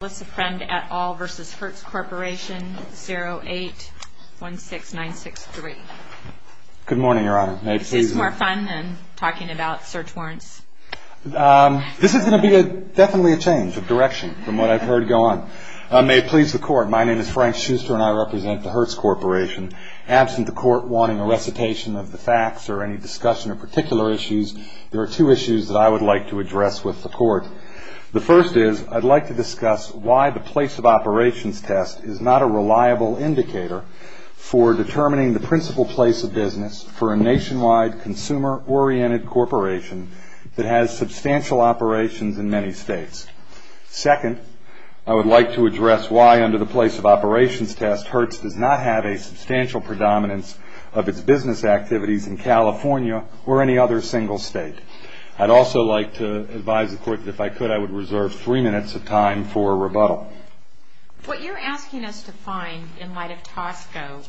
0816963. Good morning, Your Honor. This is more fun than talking about search warrants. This is going to be definitely a change of direction from what I've heard go on. May it please the court, my name is Frank Schuster and I represent the Hertz Corporation. Absent the court wanting a recitation of the facts or any discussion of particular issues, there are two issues that I would like to address with the court. The first is, I'd like to discuss why the place of operations test is not a reliable indicator for determining the principal place of business for a nationwide consumer-oriented corporation that has substantial operations in many states. Second, I would like to address why under the place of operations test, Hertz does not have a substantial predominance of its business activities in California or any other single state. I'd also like to advise the court that if I could, I would reserve three minutes of time for rebuttal. What you're asking us to find in light of Tosco,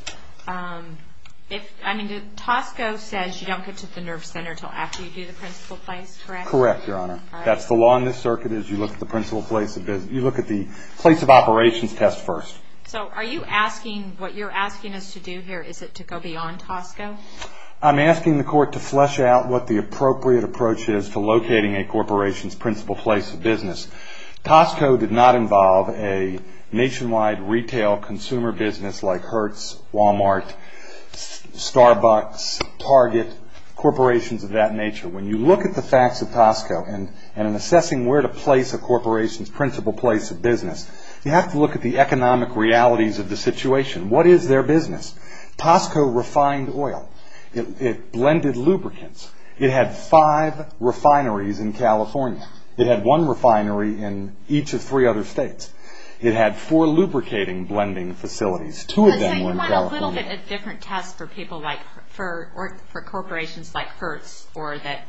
if, I mean, Tosco says you don't get to the nerve center until after you do the principal place, correct? Correct, Your Honor. That's the law in this circuit is you look at the principal place of business, you look at the place of operations test first. So are you asking, what you're asking us to do here, is it to go beyond Tosco? I'm asking the court to flesh out what the appropriate approach is to locating a corporation's principal place of business. Tosco did not involve a nationwide retail consumer business like Hertz, Walmart, Starbucks, Target, corporations of that nature. When you look at the facts of Tosco and in assessing where to place a corporation's principal place of business, you have to look at the economic realities of the situation. What is their business? Tosco refined oil. It blended lubricants. It had five refineries in California. It had one refinery in each of three other states, it had four lubricating blending facilities. Two of them were in California. So you want a little bit of a different test for people like, for corporations like Hertz or that,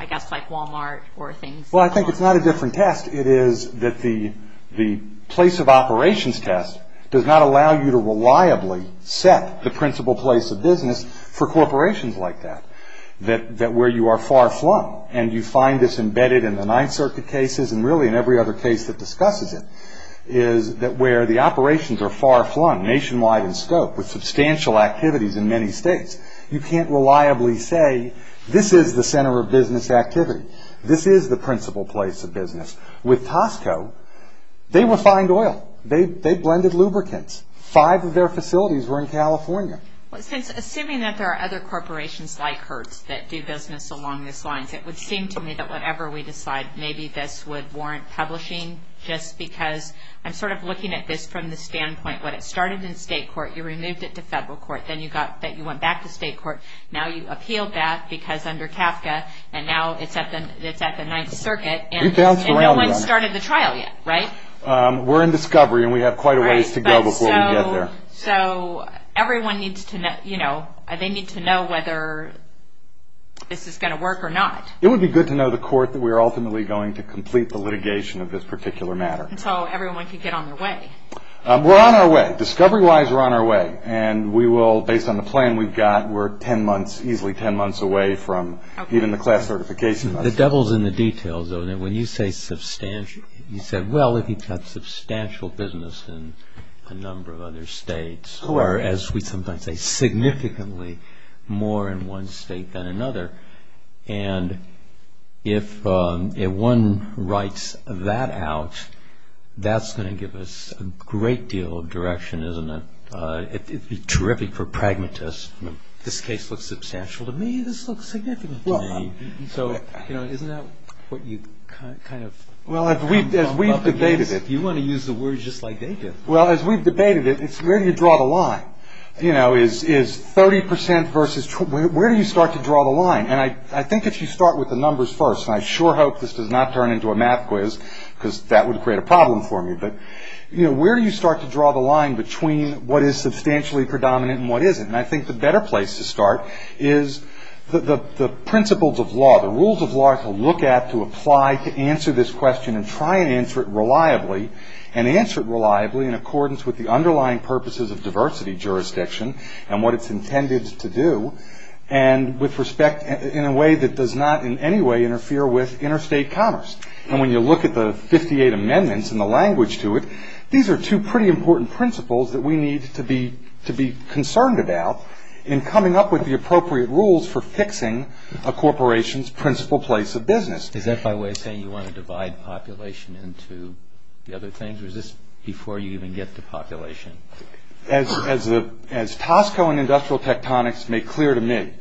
I guess, like Walmart or things like that? Well, I think it's not a different test. It is that the place of operations test does not allow you to reliably set the principal place of business for corporations like that, where you are far flung. And you find this embedded in the Ninth Circuit cases and really in every other case that discusses it, is that where the operations are far flung, nationwide in scope, with substantial activities in many states, you can't reliably say, this is the center of business activity. This is the principal place of business. With Tosco, they refined oil. They blended lubricants. Five of their facilities were in California. Well, since, assuming that there are other corporations like Hertz that do business along these lines, it would seem to me that whatever we decide, maybe this would warrant publishing, just because I'm sort of looking at this from the standpoint, when it started in state court, you removed it to federal court. Then you got, that you went back to state court. Now you appealed that, because under CAFCA, and now it's at the Ninth Circuit. You bounced around on it. And no one's started the trial yet, right? We're in discovery, and we have quite a ways to go before we get there. So, everyone needs to know, you know, they need to know whether this is going to work or not. It would be good to know the court that we are ultimately going to complete the litigation of this particular matter. Until everyone can get on their way. We're on our way. Discovery-wise, we're on our way. And we will, based on the plan we've got, we're ten months, easily ten months away from even the class certification. The devil's in the details, though. When you say substantial, you said, well, if you've got substantial business in a number of other states. Or, as we sometimes say, significantly more in one state than another. And if one writes that out, that's going to give us a great deal of direction, isn't it? It would be terrific for pragmatists. This case looks substantial to me. This looks significant to me. So, you know, isn't that what you kind of... Well, as we've debated it... You want to use the word just like they did. Well, as we've debated it, it's where do you draw the line? You know, is 30 percent versus... where do you start to draw the line? And I think if you start with the numbers first, and I sure hope this does not turn into a math quiz, because that would create a problem for me. But, you know, where do you start to draw the line between what is substantially predominant and what isn't? And I think the better place to start is the principles of law, the rules of law to look at, to apply, to answer this question and try and answer it reliably, and answer it reliably in accordance with the underlying purposes of diversity jurisdiction and what it's intended to do, and with respect in a way that does not in any way interfere with interstate commerce. And when you look at the 58 amendments and the language to it, these are two pretty important principles that we need to be concerned about in coming up with the appropriate rules for fixing a corporation's principal place of business. Is that by way of saying you want to divide population into the other things, or is this before you even get to population? As Tosco and Industrial Tectonics make clear to me,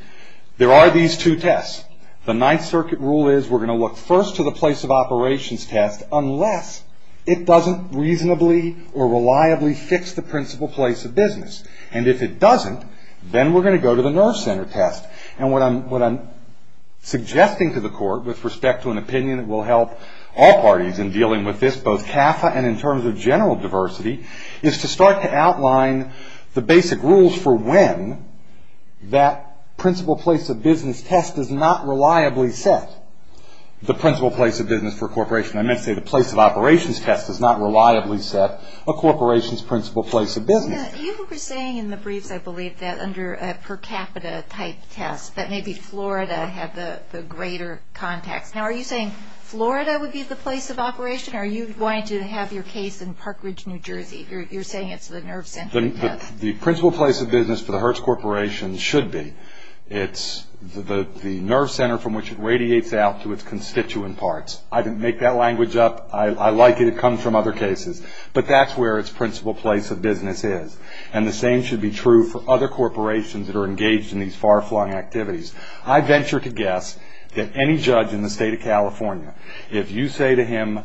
there are these two tests. The Ninth Circuit rule is we're going to look first to the place of operations test unless it doesn't reasonably or reliably fix the principal place of business. And if it doesn't, then we're going to go to the nerve center test. And what I'm suggesting to the court with respect to an opinion that will help all parties in dealing with this, both CAFA and in terms of general diversity, is to start to outline the basic rules for when that principal place of business test does not reliably set the principal place of business for a corporation. I meant to say the place of operations test does not reliably set a corporation's principal place of business. You were saying in the briefs, I believe, that under a per capita type test, that maybe Florida had the greater context. Now, are you saying Florida would be the place of operation, or are you going to have your case in Park Ridge, New Jersey? You're saying it's the nerve center test. The principal place of business for the Hertz Corporation should be. It's the nerve center from which it radiates out to its constituent parts. I didn't make that language up. I like it. It comes from other cases. But that's where its principal place of business is. And the same should be true for other corporations that are engaged in these far-flung activities. I venture to guess that any judge in the state of California, if you say to him,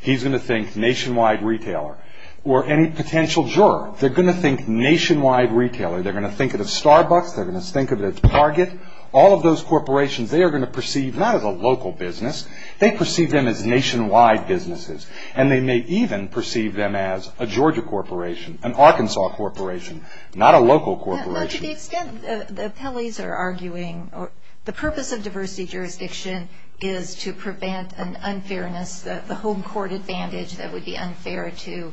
he's going to think nationwide retailer, or any potential juror. They're going to think nationwide retailer. They're going to think of it as Starbucks. They're going to think of it as Target. All of those corporations, they are going to perceive not as a local business. They perceive them as nationwide businesses. And they may even perceive them as a Georgia corporation, an Arkansas corporation, not a local corporation. Well, to the extent the appellees are arguing, the purpose of diversity jurisdiction is to prevent an unfairness, the home court advantage that would be unfair to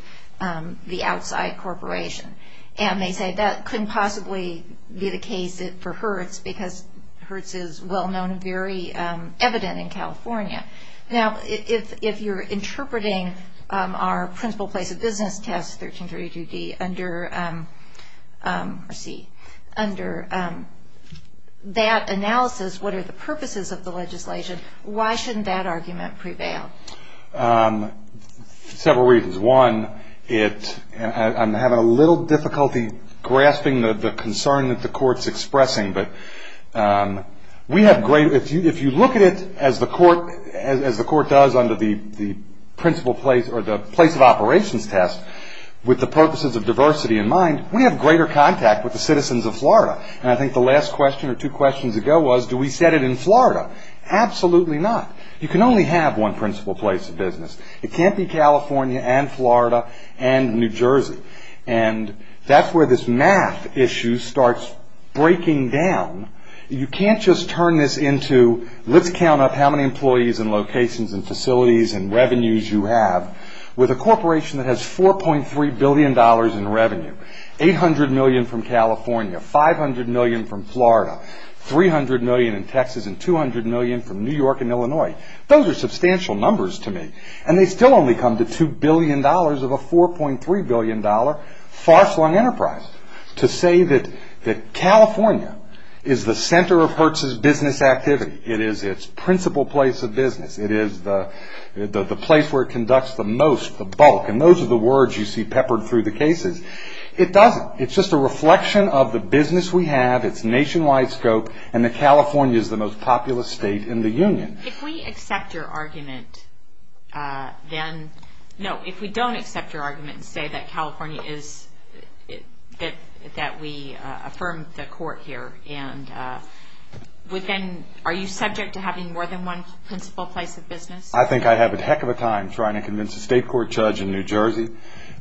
the outside corporation. And they say that couldn't possibly be the case for Hertz because Hertz is well-known and very evident in California. Now, if you're interpreting our principal place of business test, 1332D, under that analysis, what are the purposes of the legislation? Why shouldn't that argument prevail? Several reasons. One, I'm having a little difficulty grasping the concern that the court's expressing. But if you look at it as the court does under the principal place or the place of operations test, with the purposes of diversity in mind, we have greater contact with the citizens of Florida. And I think the last question or two questions ago was, do we set it in Florida? Absolutely not. You can only have one principal place of business. It can't be California and Florida and New Jersey. And that's where this math issue starts breaking down. You can't just turn this into, let's count up how many employees and locations and facilities and revenues you have, with a corporation that has $4.3 billion in revenue, $800 million from California, $500 million from Florida, $300 million in Texas and $200 million from New York and Illinois. Those are substantial numbers to me. And they still only come to $2 billion of a $4.3 billion far-flung enterprise. To say that California is the center of Hertz's business activity, it is its principal place of business, it is the place where it conducts the most, the bulk, and those are the words you see peppered through the cases. It doesn't. It's just a reflection of the business we have, its nationwide scope, and that California is the most populous state in the union. If we accept your argument, then, no, if we don't accept your argument and say that California is, that we affirm the court here, and are you subject to having more than one principal place of business? I think I have a heck of a time trying to convince a state court judge in New Jersey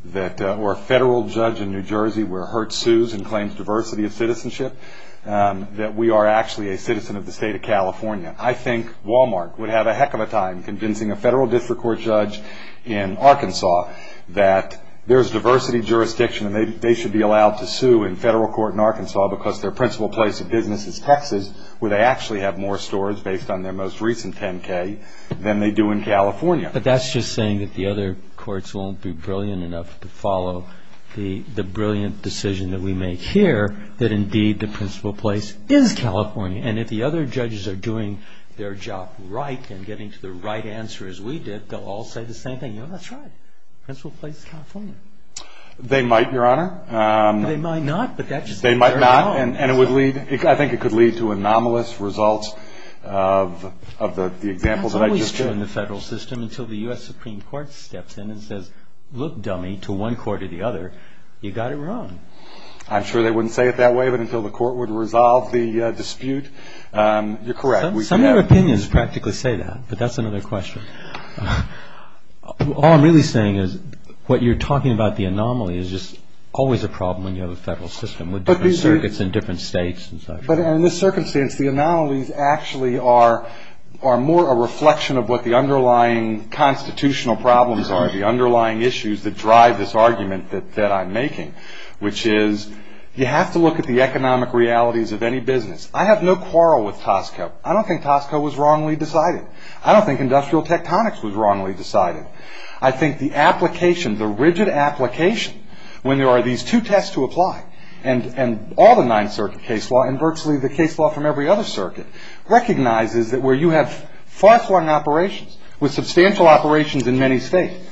that, or a federal judge in New Jersey where Hertz sues and claims diversity of citizenship, that we are actually a citizen of the state of California. I think Walmart would have a heck of a time convincing a federal district court judge in Arkansas that there's diversity jurisdiction and they should be allowed to sue in federal court in Arkansas because their principal place of business is Texas, where they actually have more stores based on their most recent 10K than they do in California. But that's just saying that the other courts won't be brilliant enough to follow the brilliant decision that we make here, that indeed the principal place is California. And if the other judges are doing their job right and getting to the right answer as we did, they'll all say the same thing, you know, that's right, principal place is California. They might, Your Honor. They might not, but that just means they're wrong. They might not, and I think it could lead to anomalous results of the example that I just gave. That's always true in the federal system until the U.S. Supreme Court steps in and says, look, dummy, to one court or the other, you got it wrong. I'm sure they wouldn't say it that way, but until the court would resolve the dispute, you're correct. Some of your opinions practically say that, but that's another question. All I'm really saying is what you're talking about, the anomaly, is just always a problem when you have a federal system with different circuits and different states and such. But in this circumstance, the anomalies actually are more a reflection of what the underlying constitutional problems are, the underlying issues that drive this argument that I'm making, which is you have to look at the economic realities of any business. I have no quarrel with Tosco. I don't think Tosco was wrongly decided. I don't think industrial tectonics was wrongly decided. I think the application, the rigid application, when there are these two tests to apply and all the Ninth Circuit case law and virtually the case law from every other circuit recognizes that where you have far-flung operations with substantial operations in many states,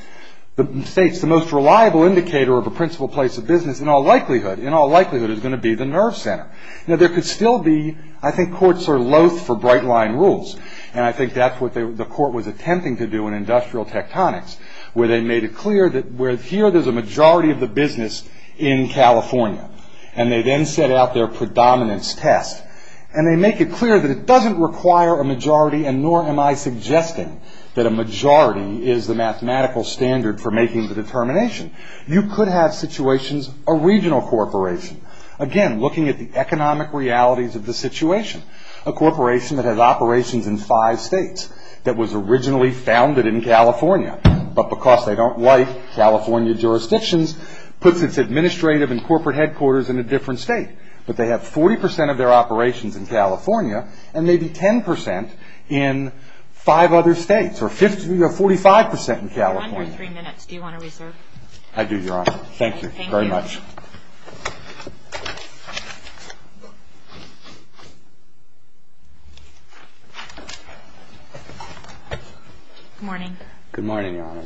the states, the most reliable indicator of a principal place of business in all likelihood, in all likelihood, is going to be the nerve center. Now, there could still be, I think, courts are loath for bright-line rules, and I think that's what the court was attempting to do in industrial tectonics, where they made it clear that here there's a majority of the business in California, and they then set out their predominance test. And they make it clear that it doesn't require a majority, and nor am I suggesting that a majority is the mathematical standard for making the determination. You could have situations, a regional corporation. Again, looking at the economic realities of the situation, a corporation that has operations in five states that was originally founded in California, but because they don't like California jurisdictions, puts its administrative and corporate headquarters in a different state. But they have 40% of their operations in California, and maybe 10% in five other states, or 45% in California. One more three minutes. Do you want to reserve? I do, Your Honor. Thank you very much. Good morning. Good morning, Your Honor.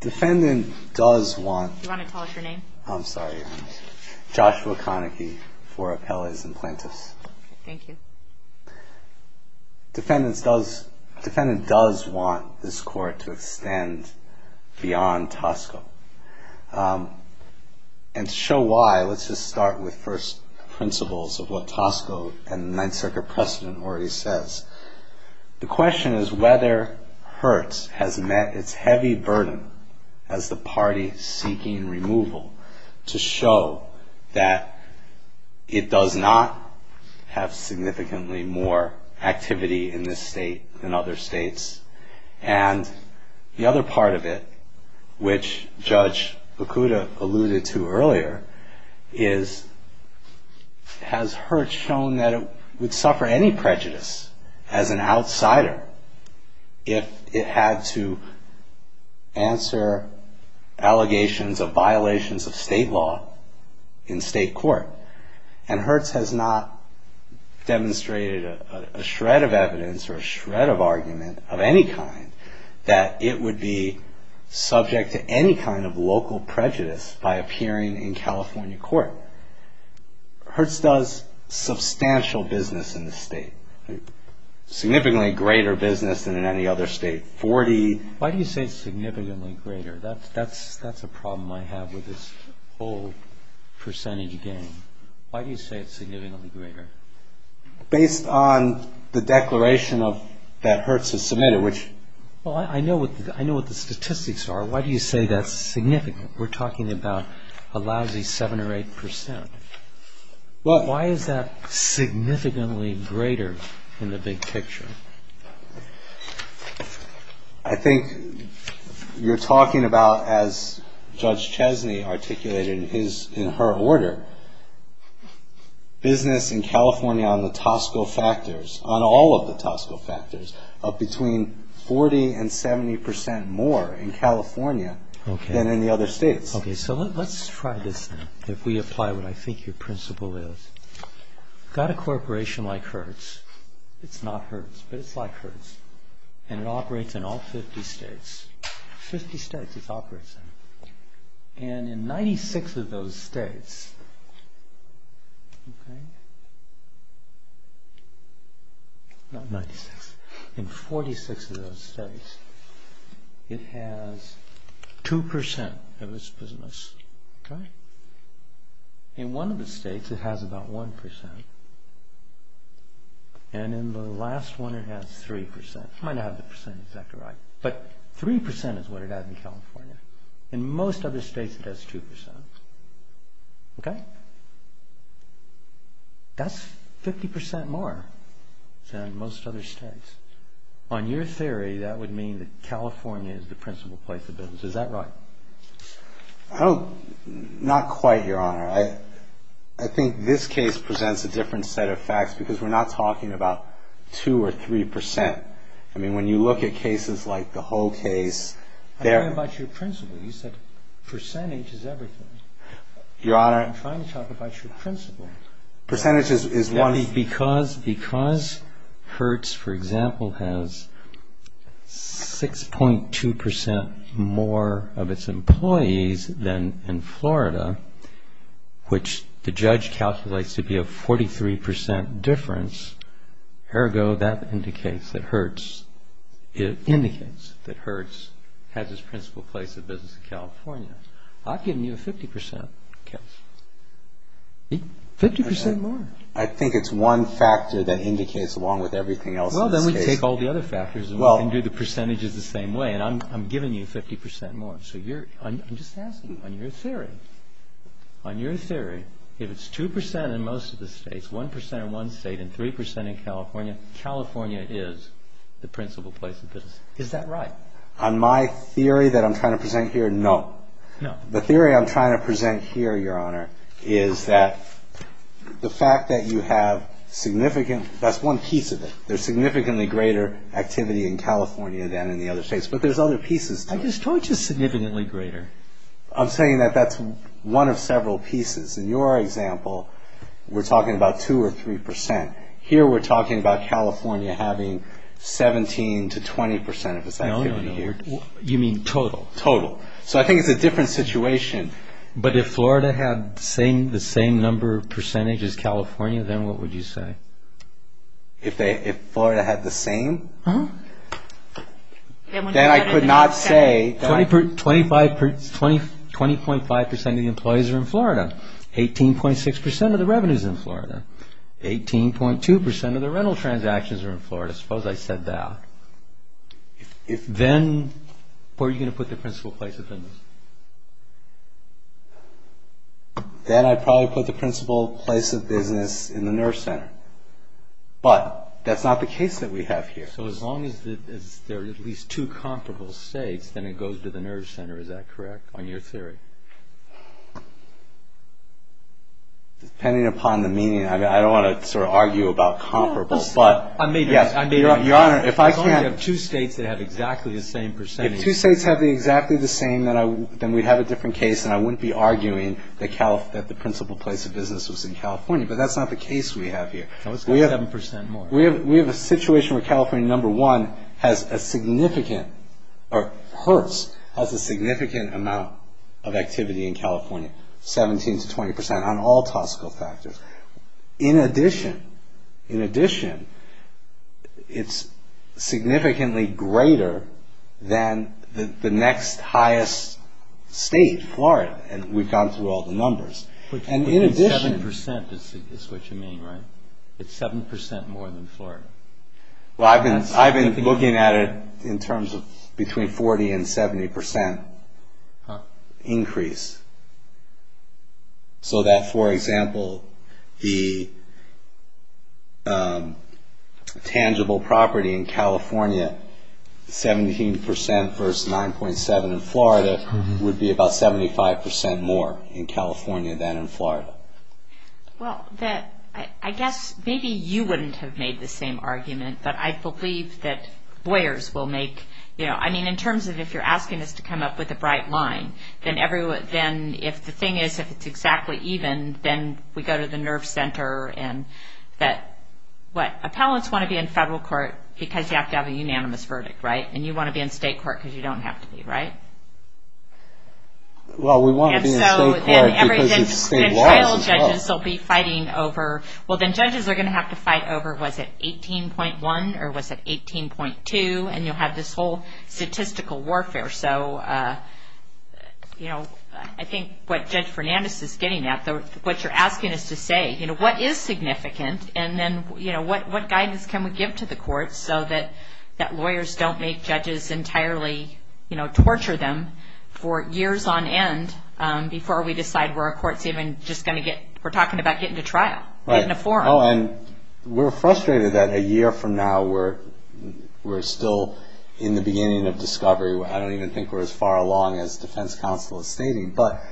Defendant does want... Do you want to tell us your name? I'm sorry, Your Honor. Joshua Konecki for Appellas and Plaintiffs. Thank you. Defendant does want this court to extend beyond Tosco. And to show why, let's just start with first principles of what Tosco and the Ninth Circuit precedent already says. The question is whether Hertz has met its heavy burden as the party seeking removal, to show that it does not have significantly more activity in this state than other states. And the other part of it, which Judge Bakuda alluded to earlier, is has Hertz shown that it would suffer any prejudice as an outsider if it had to answer allegations of violations of state law in state court. And Hertz has not demonstrated a shred of evidence or a shred of argument of any kind that it would be subject to any kind of local prejudice by appearing in California court. Hertz does substantial business in this state. Significantly greater business than in any other state. Why do you say significantly greater? That's a problem I have with this whole percentage game. Why do you say it's significantly greater? Based on the declaration that Hertz has submitted. Well, I know what the statistics are. Why do you say that's significant? We're talking about a lousy 7 or 8 percent. Why is that significantly greater in the big picture? I think you're talking about, as Judge Chesney articulated in her order, business in California on the Tosco factors, on all of the Tosco factors, of between 40 and 70 percent more in California than in the other states. Okay, so let's try this then. If we apply what I think your principle is. You've got a corporation like Hertz. It's not Hertz, but it's like Hertz. And it operates in all 50 states. 50 states it operates in. And in 96 of those states, in 46 of those states, it has 2 percent of its business. In one of the states it has about 1 percent. And in the last one it has 3 percent. I might not have the percentage exactly right. But 3 percent is what it has in California. In most other states it has 2 percent. That's 50 percent more than most other states. On your theory, that would mean that California is the principal place of business. Is that right? Not quite, Your Honor. I think this case presents a different set of facts because we're not talking about 2 or 3 percent. I mean, when you look at cases like the whole case, I'm talking about your principle. You said percentage is everything. Your Honor. I'm trying to talk about your principle. Percentage is one thing. But because Hertz, for example, has 6.2 percent more of its employees than in Florida, which the judge calculates to be a 43 percent difference, ergo that indicates that Hertz has its principal place of business in California. I've given you a 50 percent case. 50 percent more. I think it's one factor that indicates along with everything else in this case. Well, then we take all the other factors and do the percentages the same way. I'm giving you 50 percent more. I'm just asking on your theory. On your theory, if it's 2 percent in most of the states, 1 percent in one state and 3 percent in California, California is the principal place of business. Is that right? On my theory that I'm trying to present here, no. The theory I'm trying to present here, Your Honor, is that the fact that you have significant, that's one piece of it. There's significantly greater activity in California than in the other states. But there's other pieces to it. I just told you significantly greater. I'm saying that that's one of several pieces. In your example, we're talking about 2 or 3 percent. Here we're talking about California having 17 to 20 percent of its activity here. No, no, no. You mean total. Total. So I think it's a different situation. But if Florida had the same number of percentage as California, then what would you say? If Florida had the same? Then I could not say. 20.5 percent of the employees are in Florida. 18.6 percent of the revenue is in Florida. 18.2 percent of the rental transactions are in Florida. Suppose I said that. Then where are you going to put the principal place of business? Then I'd probably put the principal place of business in the nerve center. But that's not the case that we have here. So as long as there are at least two comparable states, then it goes to the nerve center, is that correct, on your theory? Depending upon the meaning, I don't want to sort of argue about comparable. Your Honor, if I can't... As long as you have two states that have exactly the same percentage. If two states have exactly the same, then we'd have a different case, and I wouldn't be arguing that the principal place of business was in California. But that's not the case we have here. No, it's got 7 percent more. We have a situation where California, number one, has a significant, or hurts, has a significant amount of activity in California, 17 to 20 percent, on all tactical factors. In addition, it's significantly greater than the next highest state, Florida. And we've gone through all the numbers. But 7 percent is what you mean, right? It's 7 percent more than Florida. I've been looking at it in terms of between 40 and 70 percent increase. So that, for example, the tangible property in California, 17 percent versus 9.7 in Florida, would be about 75 percent more in California than in Florida. Well, I guess maybe you wouldn't have made the same argument, but I believe that lawyers will make... I mean, in terms of if you're asking us to come up with a bright line, then if the thing is, if it's exactly even, then we go to the nerve center. Appellants want to be in federal court because you have to have a unanimous verdict, right? And you want to be in state court because you don't have to be, right? Well, we want to be in state court because it's state law. And child judges will be fighting over, well, then judges are going to have to fight over, was it 18.1 or was it 18.2, and you'll have this whole statistical warfare. So I think what Judge Fernandez is getting at, what you're asking us to say, what is significant and then what guidance can we give to the courts so that lawyers don't make judges entirely torture them for years on end before we decide where a court's even just going to get... We're talking about getting to trial, getting a forum. And we're frustrated that a year from now we're still in the beginning of discovery. I don't even think we're as far along as defense counsel is stating. But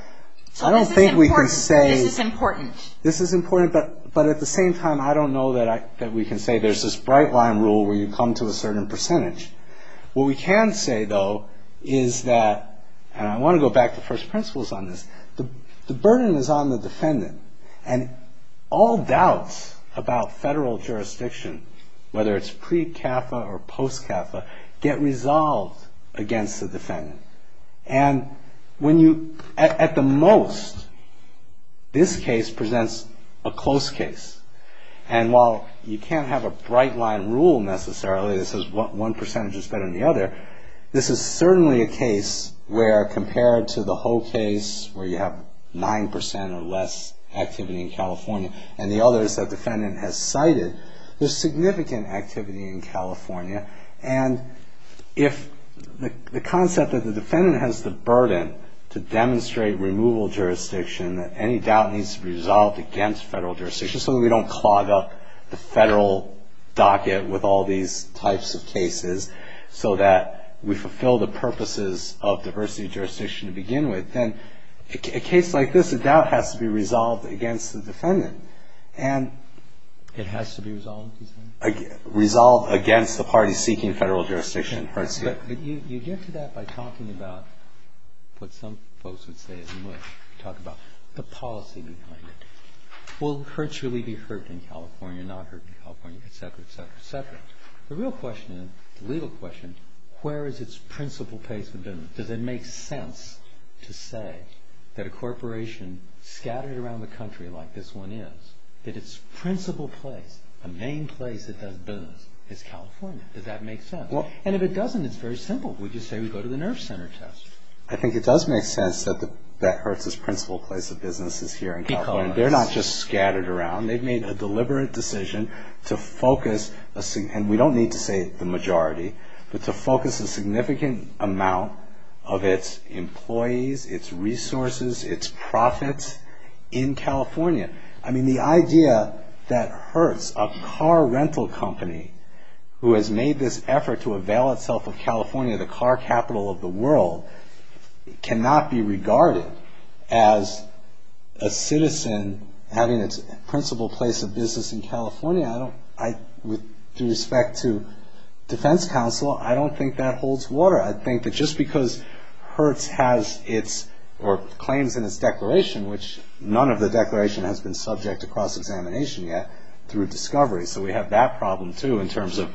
I don't think we can say... This is important. This is important. But at the same time, I don't know that we can say there's this bright line rule where you come to a certain percentage. What we can say, though, is that, and I want to go back to first principles on this, the burden is on the defendant. And all doubts about federal jurisdiction, whether it's pre-CAFA or post-CAFA, get resolved against the defendant. And at the most, this case presents a close case. And while you can't have a bright line rule necessarily that says one percentage is better than the other, this is certainly a case where compared to the whole case where you have 9% or less activity in California and the others that the defendant has cited, there's significant activity in California and if the concept that the defendant has the burden to demonstrate removal jurisdiction, that any doubt needs to be resolved against federal jurisdiction so that we don't clog up the federal docket with all these types of cases so that we fulfill the purposes of diversity of jurisdiction to begin with, then a case like this, a doubt has to be resolved against the defendant. It has to be resolved, you say? Resolved against the parties seeking federal jurisdiction. But you get to that by talking about what some folks would say and would talk about the policy behind it. Will Hertz really be hurt in California, not hurt in California, et cetera, et cetera, et cetera. The real question, the legal question, where is its principal place with them? Does it make sense to say that a corporation scattered around the country like this one is, that its principal place, the main place it does business is California? Does that make sense? And if it doesn't, it's very simple. We just say we go to the nerve center test. I think it does make sense that Hertz's principal place of business is here in California. They're not just scattered around. They've made a deliberate decision to focus, and we don't need to say the majority, but to focus a significant amount of its employees, its resources, its profits in California. I mean, the idea that Hertz, a car rental company who has made this effort to avail itself of California, the car capital of the world, cannot be regarded as a citizen having its principal place of business in California, with respect to defense counsel, I don't think that holds water. I think that just because Hertz has its, or claims in its declaration, which none of the declaration has been subject to cross-examination yet through discovery, so we have that problem, too, in terms of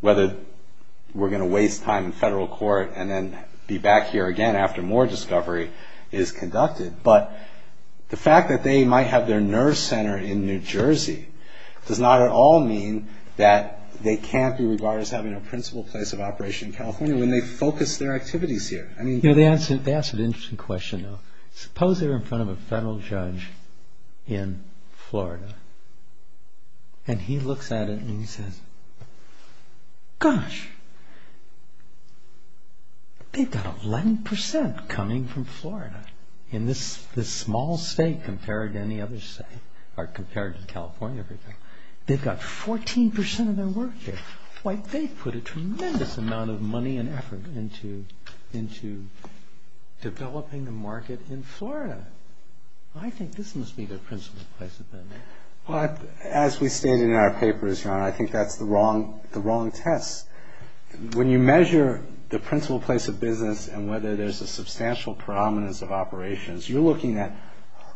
whether we're going to waste time in federal court and then be back here again after more discovery is conducted. But the fact that they might have their nerve center in New Jersey does not at all mean that they can't be regarded as having a principal place of operation in California when they focus their activities here. They asked an interesting question, though. Suppose they're in front of a federal judge in Florida, and he looks at it and he says, Gosh, they've got 11% coming from Florida. In this small state compared to any other state, or compared to California, they've got 14% of their work here. They've put a tremendous amount of money and effort into developing the market in Florida. I think this must be their principal place of business. Well, as we stated in our papers, John, I think that's the wrong test. When you measure the principal place of business and whether there's a substantial predominance of operations, you're looking at,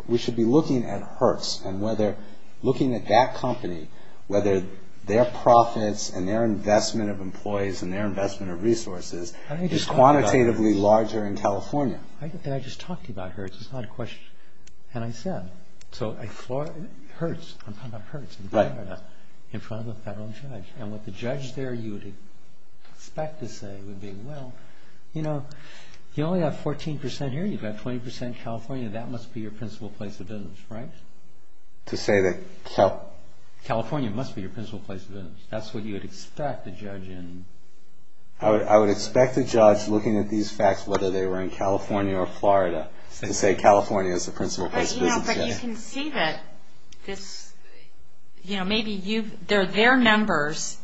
we should be looking at Hertz and whether looking at that company, whether their profits and their investment of employees and their investment of resources is quantitatively larger in California. I just talked about Hertz. It's not a question. And I said. Hertz, I'm talking about Hertz in Florida, in front of a federal judge. And what the judge there, you would expect to say would be, Well, you only have 14% here. You've got 20% in California. That must be your principal place of business, right? To say that California must be your principal place of business. That's what you would expect the judge in. I would expect the judge looking at these facts, whether they were in California or Florida, to say California is the principal place of business. But you can see that this, you know, maybe they're their numbers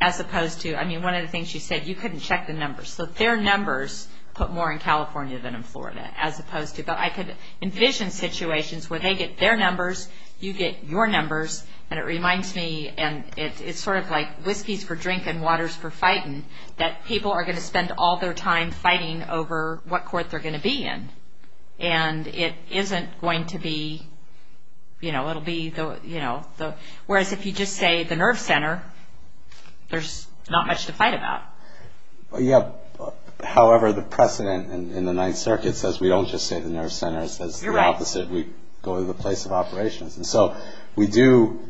as opposed to. I mean, one of the things you said, you couldn't check the numbers. So their numbers put more in California than in Florida, as opposed to. But I could envision situations where they get their numbers, you get your numbers. And it reminds me, and it's sort of like whiskeys for drinking, waters for fighting, that people are going to spend all their time fighting over what court they're going to be in. And it isn't going to be, you know, it'll be the, you know, the, whereas if you just say the nerve center, there's not much to fight about. Yeah. However, the precedent in the Ninth Circuit says we don't just say the nerve center. It says the opposite. We go to the place of operations. And so we do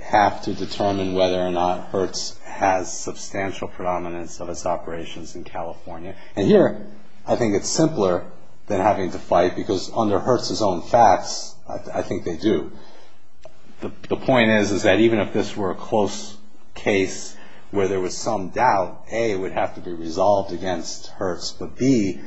have to determine whether or not Hertz has substantial predominance of its operations in California. And here, I think it's simpler than having to fight, because under Hertz's own facts, I think they do. The point is, is that even if this were a close case where there was some doubt, A, it would have to be resolved against Hertz, but B,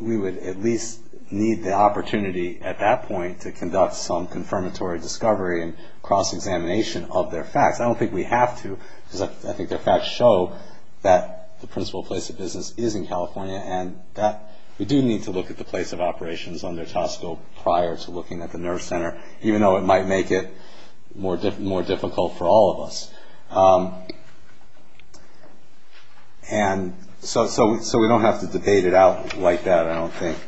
we would at least need the opportunity at that point to conduct some confirmatory discovery and cross-examination of their facts. I don't think we have to, because I think their facts show that the principal place of business is in California, and that we do need to look at the place of operations under TSCO prior to looking at the nerve center, even though it might make it more difficult for all of us. And so we don't have to debate it out like that, I don't think.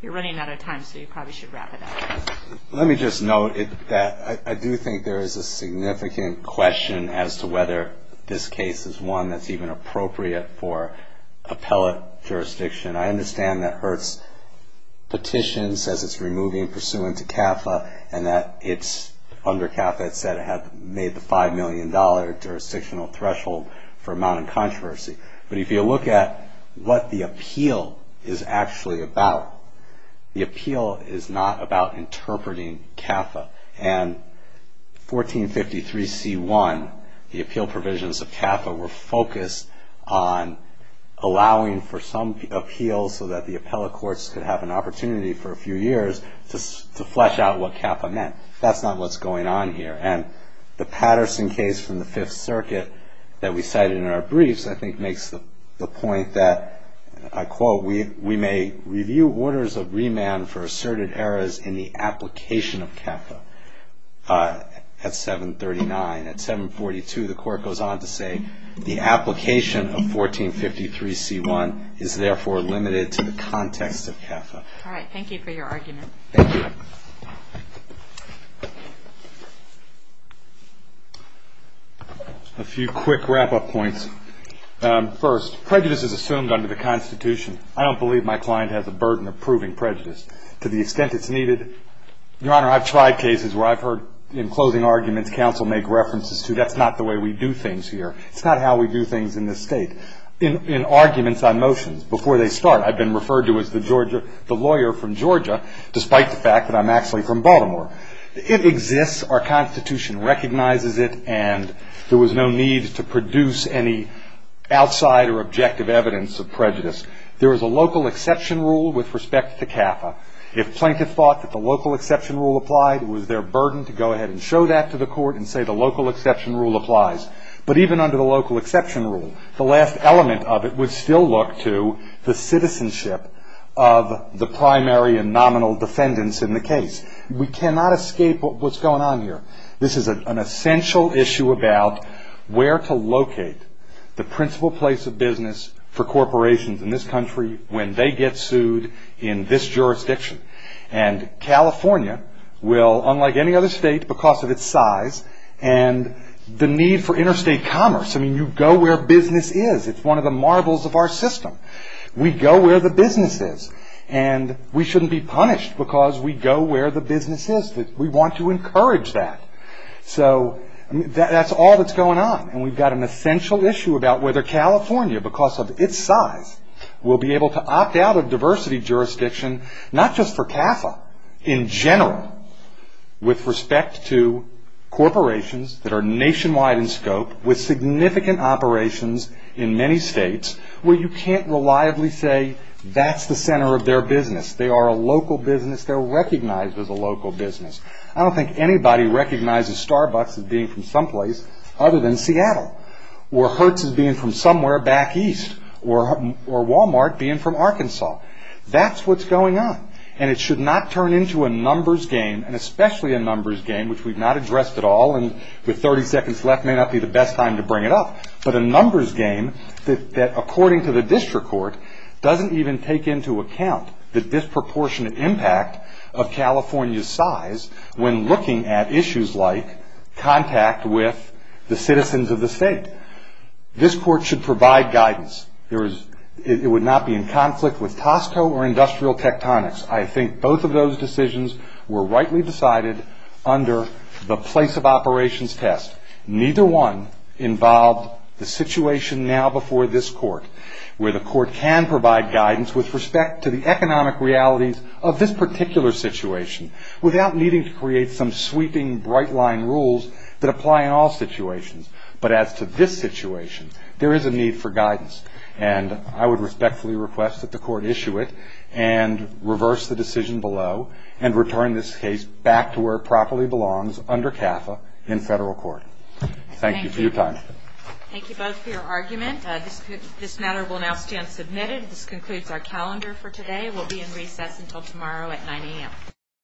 You're running out of time, so you probably should wrap it up. Let me just note that I do think there is a significant question as to whether this case is one that's even appropriate for appellate jurisdiction. I understand that Hertz petitions as it's removing pursuant to CAFA, and that it's, under CAFA, it said it had made the $5 million jurisdictional threshold for mounting controversy. But if you look at what the appeal is actually about, the appeal is not about interpreting CAFA. And 1453c1, the appeal provisions of CAFA were focused on allowing for some appeals so that the appellate courts could have an opportunity for a few years to flesh out what CAFA meant. That's not what's going on here. And the Patterson case from the Fifth Circuit that we cited in our briefs, I think makes the point that, I quote, we may review orders of remand for asserted errors in the application of CAFA at 739. At 742, the court goes on to say the application of 1453c1 is therefore limited to the context of CAFA. All right, thank you for your argument. Thank you. A few quick wrap-up points. First, prejudice is assumed under the Constitution. I don't believe my client has a burden of proving prejudice. To the extent it's needed, Your Honor, I've tried cases where I've heard, in closing arguments, counsel make references to that's not the way we do things here. It's not how we do things in this state. In arguments on motions, before they start, I've been referred to as the lawyer from Georgia, despite the fact that I'm actually from Baltimore. It exists. Our Constitution recognizes it, and there was no need to produce any outside or objective evidence of prejudice. There is a local exception rule with respect to CAFA. If plaintiff thought that the local exception rule applied, it was their burden to go ahead and show that to the court and say the local exception rule applies. But even under the local exception rule, the last element of it would still look to the citizenship of the primary and nominal defendants in the case. We cannot escape what's going on here. This is an essential issue about where to locate the principal place of business for corporations in this country when they get sued in this jurisdiction. And California will, unlike any other state because of its size and the need for interstate commerce, I mean, you go where business is. It's one of the marvels of our system. We go where the business is, and we shouldn't be punished because we go where the business is. We want to encourage that. So that's all that's going on, and we've got an essential issue about whether California, because of its size, will be able to opt out of diversity jurisdiction, not just for CAFA in general, with respect to corporations that are nationwide in scope with significant operations in many states where you can't reliably say that's the center of their business. They are a local business. They're recognized as a local business. I don't think anybody recognizes Starbucks as being from someplace other than Seattle or Hertz as being from somewhere back east or Walmart being from Arkansas. That's what's going on, and it should not turn into a numbers game, and especially a numbers game, which we've not addressed at all, and with 30 seconds left may not be the best time to bring it up, but a numbers game that, according to the district court, doesn't even take into account the disproportionate impact of California's size when looking at issues like contact with the citizens of the state. This court should provide guidance. It would not be in conflict with Tosco or Industrial Tectonics. I think both of those decisions were rightly decided under the place of operations test. Neither one involved the situation now before this court where the court can provide guidance with respect to the economic realities of this particular situation without needing to create some sweeping, bright-line rules that apply in all situations, but as to this situation, there is a need for guidance, and I would respectfully request that the court issue it and reverse the decision below and return this case back to where it properly belongs under CAFA in federal court. Thank you for your time. Thank you both for your argument. This matter will now stand submitted. This concludes our calendar for today. We'll be in recess until tomorrow at 9 a.m.